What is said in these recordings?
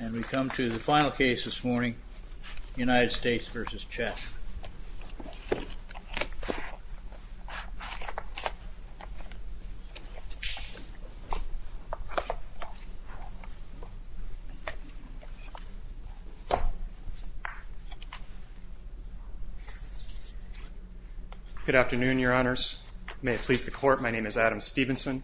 And we come to the final case this morning, United States v. Chatman. Good afternoon, your honors. May it please the court, my name is Adam Stevenson,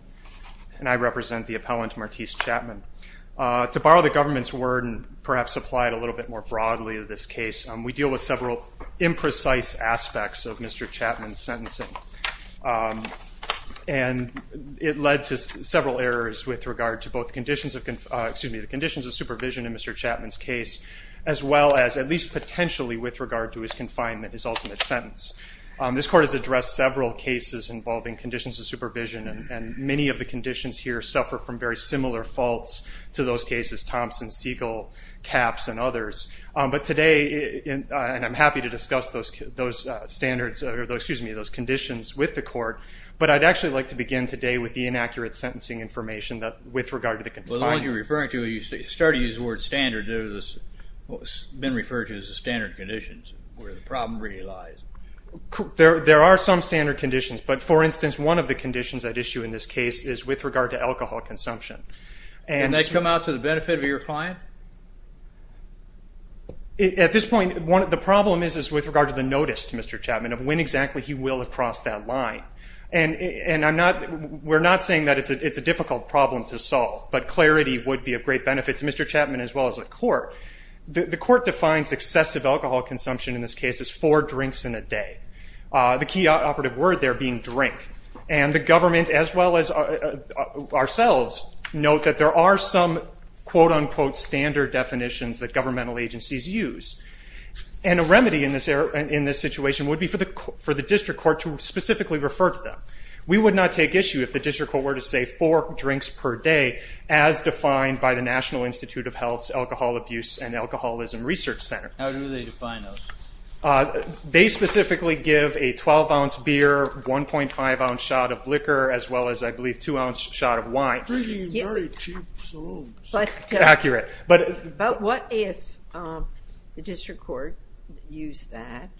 and I represent the appellant Martise Chatman. To borrow the government's word and perhaps apply it a little bit more broadly to this case, we deal with several imprecise aspects of Mr. Chatman's sentencing. And it led to several errors with regard to both conditions of, excuse me, the conditions of supervision in Mr. Chatman's case, as well as at least potentially with regard to his confinement, his ultimate sentence. This court has addressed several cases involving conditions of supervision, and many of the conditions here suffer from very similar faults to those cases, Thompson-Segal, Capps, and others. But today, and I'm happy to discuss those standards, or excuse me, those conditions with the court, but I'd actually like to begin today with the inaccurate sentencing information with regard to the confinement. Well, the one you're referring to, you started to use the word standard. It's been referred to as the standard conditions where the problem really lies. There are some standard conditions, but for instance, one of the conditions at issue in this case is with regard to alcohol consumption. And that's come out to the benefit of your client? At this point, the problem is with regard to the notice to Mr. Chatman of when exactly he will have crossed that line. And I'm not, we're not saying that it's a difficult problem to solve, but clarity would be of great benefit to Mr. Chatman as well as the court. The court defines excessive alcohol consumption in this case as four drinks in a day. The key operative word there being drink. And the government as well as ourselves note that there are some quote-unquote standard definitions that governmental agencies use. And a remedy in this situation would be for the district court to specifically refer to them. We would not take issue if the district court were to say four drinks per day as defined by the Research Center. How do they define those? They specifically give a 12-ounce beer, 1.5-ounce shot of liquor, as well as, I believe, a 2-ounce shot of wine. Very cheap salons. Accurate. But what if the district court used that?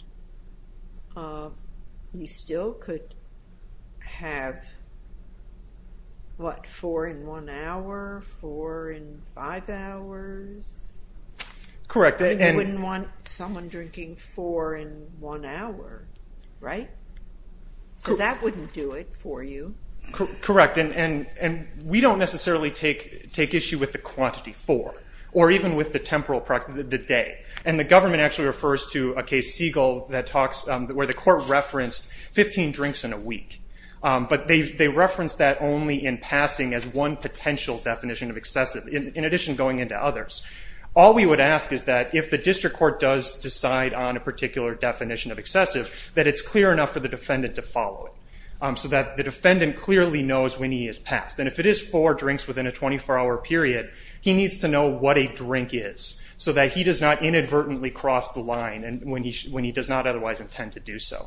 You still could have, what, four in one hour, four in five hours? Correct. You wouldn't want someone drinking four in one hour, right? So that wouldn't do it for you. Correct. And we don't necessarily take issue with the quantity four or even with the temporal practice, the day. And the government actually refers to a case, Siegel, where the court referenced 15 drinks in a week. But they reference that only in passing as one potential definition of excessive, in addition to going into others. All we would ask is that if the district court does decide on a particular definition of excessive, that it's clear enough for the defendant to follow it so that the defendant clearly knows when he has passed. And if it is four drinks within a 24-hour period, he needs to know what a drink is so that he does not inadvertently cross the line when he does not otherwise intend to do so.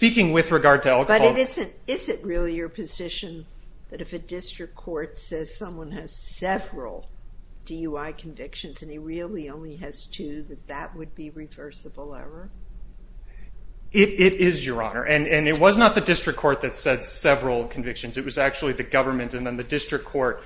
But is it really your position that if a district court says someone has several DUI convictions and he really only has two, that that would be reversible error? It is, Your Honor. And it was not the district court that said several convictions. It was actually the government. And then the district court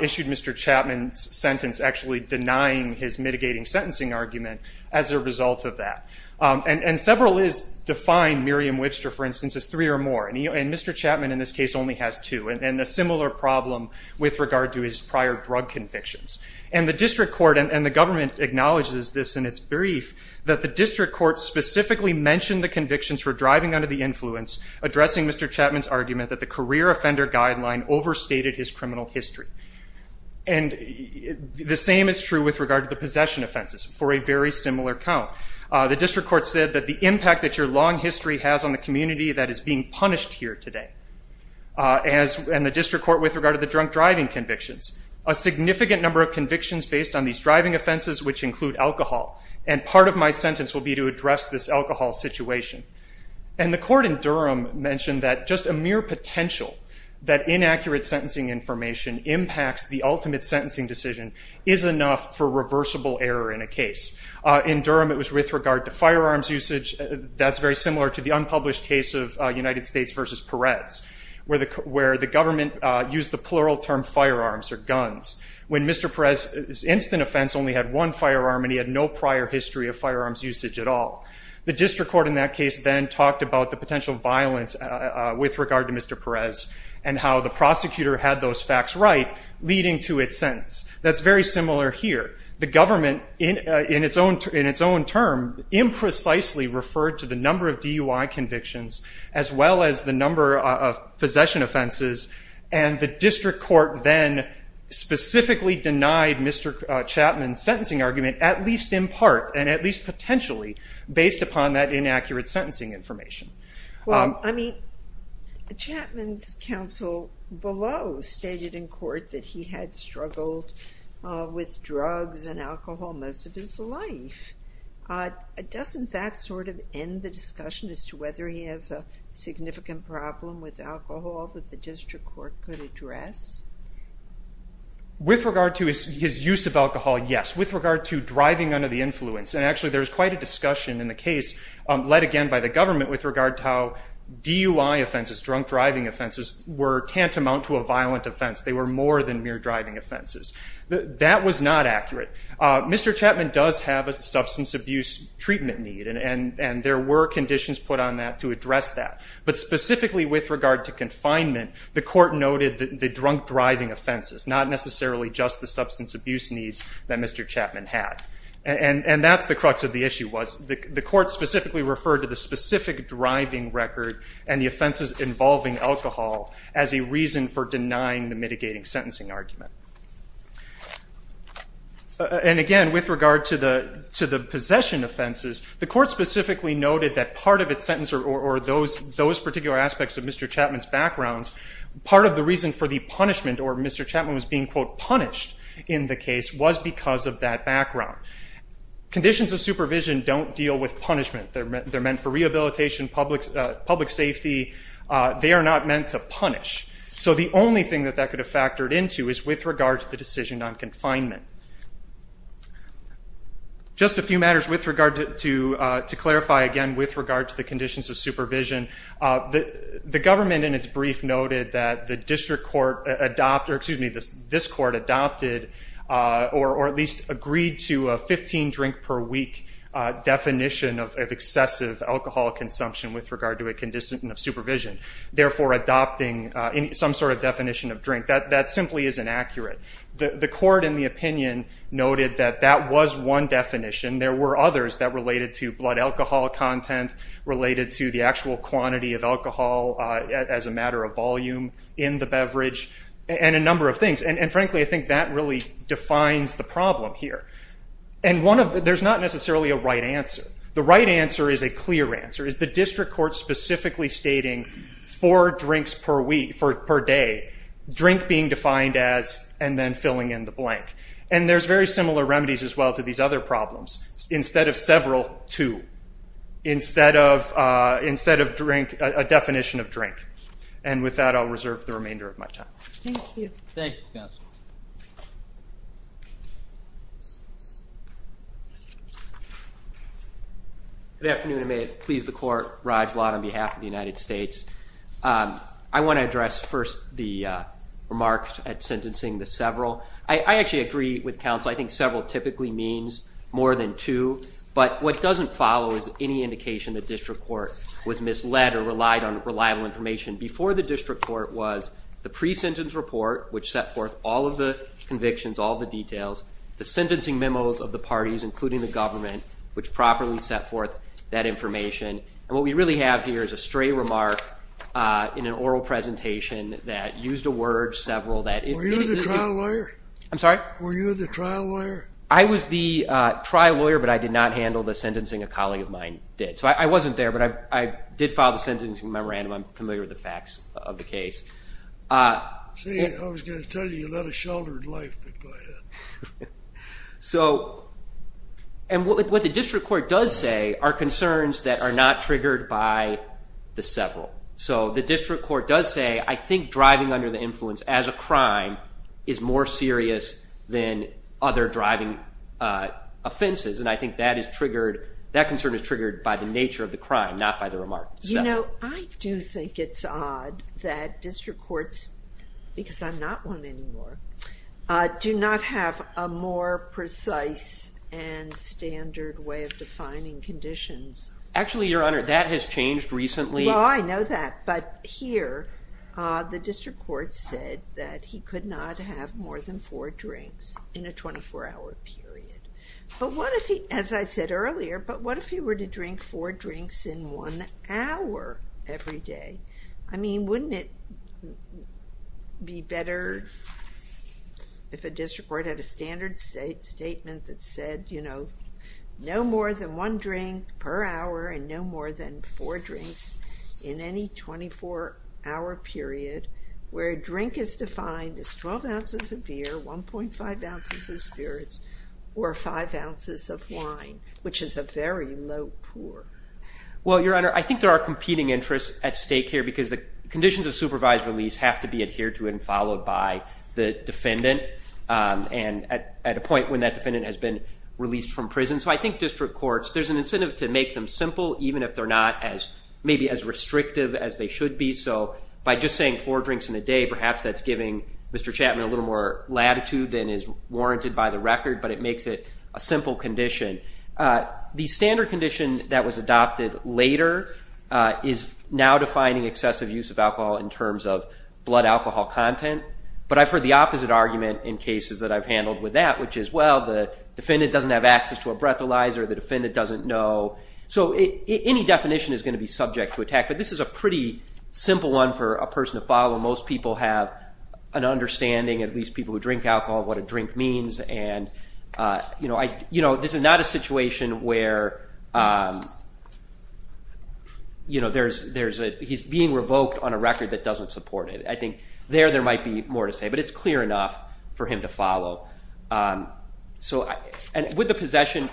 issued Mr. Chapman's sentence actually denying his mitigating sentencing argument as a result of that. And several is defined, Miriam Whitster, for instance, as three or more. And Mr. Chapman in this case only has two. And a similar problem with regard to his prior drug convictions. And the district court, and the government acknowledges this in its brief, that the district court specifically mentioned the convictions for driving under the influence, addressing Mr. Chapman's argument that the career offender guideline overstated his criminal history. And the same is true with regard to the possession offenses for a very similar count. The district court said that the impact that your long history has on the community that is being punished here today, and the district court with regard to the drunk driving convictions, a significant number of convictions based on these driving offenses which include alcohol. And part of my sentence will be to address this alcohol situation. And the court in Durham mentioned that just a mere potential that inaccurate sentencing information impacts the ultimate sentencing decision is enough for reversible error in a case. In Durham it was with regard to firearms usage. That's very similar to the unpublished case of United States versus Perez, where the government used the plural term firearms or guns. When Mr. Perez's instant offense only had one firearm and he had no prior history of firearms usage at all. The district court in that case then talked about the potential violence with regard to Mr. Perez and how the prosecutor had those facts right leading to its sentence. That's very similar here. The government in its own term imprecisely referred to the number of DUI convictions as well as the number of possession offenses and the district court then specifically denied Mr. Chapman's sentencing argument at least in part and at least potentially based upon that inaccurate sentencing information. Well, I mean, Chapman's counsel below stated in court that he had struggled with drugs and alcohol most of his life. Doesn't that sort of end the discussion as to whether he has a significant problem with alcohol that the district court could address? With regard to his use of alcohol, yes. With regard to driving under the influence, and actually there's quite a discussion in the case led again by the government with regard to how DUI offenses, drunk driving offenses, were tantamount to a violent offense. They were more than mere driving offenses. That was not accurate. Mr. Chapman does have a substance abuse treatment need and there were conditions put on that to address that. But not necessarily just the substance abuse needs that Mr. Chapman had. And that's the crux of the issue was the court specifically referred to the specific driving record and the offenses involving alcohol as a reason for denying the mitigating sentencing argument. And again, with regard to the possession offenses, the court specifically noted that part of its sentence or those particular aspects of Mr. Chapman's backgrounds, part of the reason for the punishment or Mr. Chapman was being, quote, punished in the case was because of that background. Conditions of supervision don't deal with punishment. They're meant for rehabilitation, public safety. They are not meant to punish. So the only thing that that could have factored into is with regard to the decision on confinement. Just a few matters with regard to clarify again with regard to the conditions of supervision. The government in its brief noted that the district court adopted, or excuse me, this court adopted or at least agreed to a 15 drink per week definition of excessive alcohol consumption with regard to a condition of supervision. Therefore, adopting some sort of definition of drink. That simply is inaccurate. The court in the opinion noted that that was one definition. There were others that related to blood alcohol content, related to the actual quantity of alcohol as a matter of volume in the beverage, and a number of things. And frankly, I think that really defines the problem here. And one of, there's not necessarily a right answer. The right answer is a clear answer. Is the district court specifically stating four drinks per week, per day, drink being defined as, and then filling in the blank. And there's very similar remedies as well to these other problems. Instead of several, two. Instead of, instead of drink, a definition of drink. And with that, I'll reserve the remainder of my time. Thank you. Thank you, counsel. Good afternoon, and may it please the court, Raj Lad on behalf of the United States. I want to address first the remarks at sentencing, the several. I actually agree with counsel. I think several typically means more than two. But what doesn't follow is any indication the district court was misled or relied on reliable information. Before the district court was the pre-sentence report, which set forth all of the convictions, all of the details. The sentencing memos of the parties, including the government, which properly set forth that used a word, several, that it... Were you the trial lawyer? I'm sorry? Were you the trial lawyer? I was the trial lawyer, but I did not handle the sentencing. A colleague of mine did. So I wasn't there, but I did file the sentencing memorandum. I'm familiar with the facts of the case. See, I was going to tell you, you led a sheltered life, but go ahead. So, and what the district court does say are concerns that are not triggered by the several. So the district court does say, I think driving under the influence as a crime is more serious than other driving offenses. And I think that is triggered, that concern is triggered by the nature of the crime, not by the remark. You know, I do think it's odd that district courts, because I'm not one anymore, do not have a more precise and standard way of defining conditions. Actually, Your Honor, that has changed recently. Well, I know that. But here, the district court said that he could not have more than four drinks in a 24-hour period. But what if he, as I said earlier, but what if he were to drink four drinks in one hour every day? I mean, wouldn't it be better if a district court had a standard statement that said, you know, no more than one drink per hour and no more than four drinks in any 24-hour period, where a drink is defined as 12 ounces of beer, 1.5 ounces of spirits, or 5 ounces of wine, which is a very low pour? Well, Your Honor, I think there are competing interests at stake here, because the conditions of supervised release have to be adhered to and followed by the defendant, and at a point when that defendant has been released from prison. So I think district courts, there's an incentive to make them simple, even if they're not as, maybe as restrictive as they should be. So by just saying four drinks in a day, perhaps that's giving Mr. Chapman a little more latitude than is warranted by the record, but it makes it a simple condition. The standard condition that was adopted later is now defining excessive use of alcohol in terms of blood alcohol content. But I've heard the opposite argument in cases that I've handled with that, which is, well, the defendant doesn't have access to a breathalyzer, the defendant doesn't know. So any definition is going to be subject to attack, but this is a pretty simple one for a person to follow. Most people have an understanding, at least people who drink alcohol, of what a drink means, and this is not a situation where he's being revoked on a record that doesn't support it. I think there, there might be more to say, but it's the possession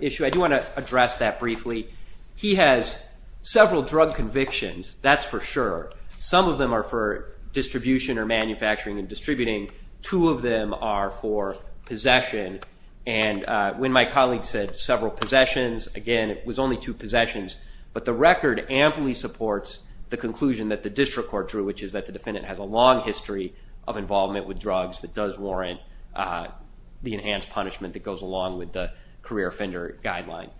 issue. I do want to address that briefly. He has several drug convictions, that's for sure. Some of them are for distribution or manufacturing and distributing. Two of them are for possession, and when my colleague said several possessions, again, it was only two possessions. But the record amply supports the conclusion that the district court drew, which is that the defendant has a long history of involvement with drugs that does warrant the enhanced punishment that goes along with the career offender guideline.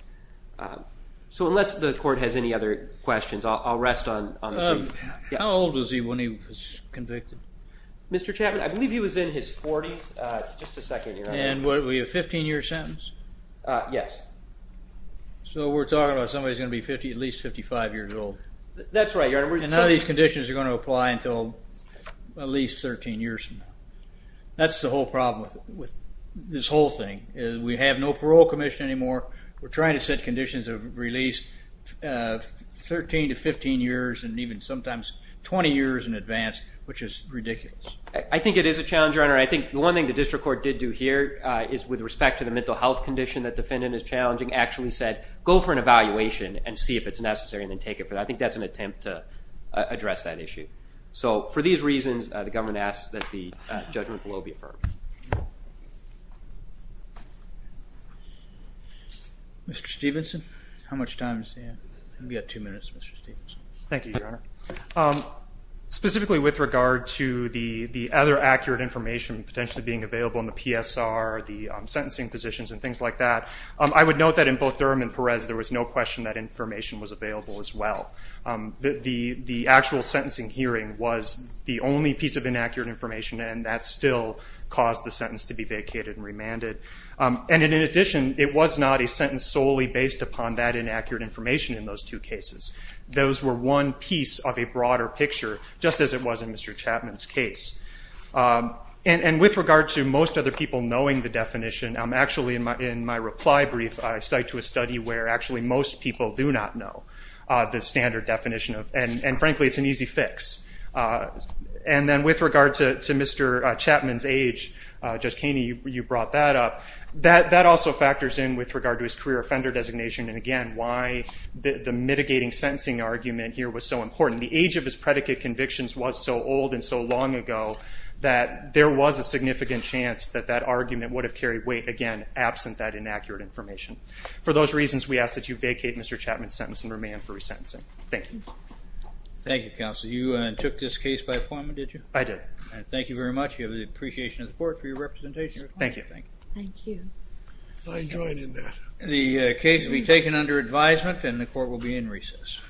So unless the court has any other questions, I'll rest on the brief. How old was he when he was convicted? Mr. Chapman, I believe he was in his forties. It's just a second, Your Honor. And what, were you a 15-year sentence? Yes. So we're talking about somebody who's going to be at least 55 years old. That's right, Your Honor. And none of these conditions are going to apply until at least 13 years from now. That's the whole problem with this whole thing. We have no parole commission anymore. We're trying to set conditions of release 13 to 15 years and even sometimes 20 years in advance, which is ridiculous. I think it is a challenge, Your Honor. I think the one thing the district court did do here is, with respect to the mental health condition that the defendant is challenging, actually said, go for an evaluation and see if it's necessary and then take it. I think that's an attempt to address that issue. So for these reasons, the government asks that the judgment below be affirmed. Mr. Stevenson, how much time is there? We've got two minutes, Mr. Stevenson. Thank you, Your Honor. Specifically with regard to the other accurate information potentially being available in the PSR, the sentencing positions and things like that, I would note that in both Durham and Perez, there was no question that information was available as well. The actual sentencing hearing was the only piece of inaccurate information and that's still caused the sentence to be vacated and remanded. In addition, it was not a sentence solely based upon that inaccurate information in those two cases. Those were one piece of a broader picture, just as it was in Mr. Chapman's case. With regard to most other people knowing the definition, actually in my reply brief I cite to a study where actually most people do not know the standard definition of, and frankly it's an easy fix. And then with regard to Mr. Chapman's age, Judge Kaney, you brought that up, that also factors in with regard to his career offender designation and again why the mitigating sentencing argument here was so important. The age of his predicate convictions was so old and so long ago that there was a significant chance that that argument would have carried weight, again, absent that inaccurate information. For those reasons, we ask that you vacate Mr. Chapman's sentence and remand for resentencing. Thank you. Thank you, Counsel. You took this case by appointment, did you? I did. And thank you very much. We have the appreciation of the Court for your representation. Thank you. Thank you. Thank you. I join in that. The case will be taken under advisement and the Court will be in recess.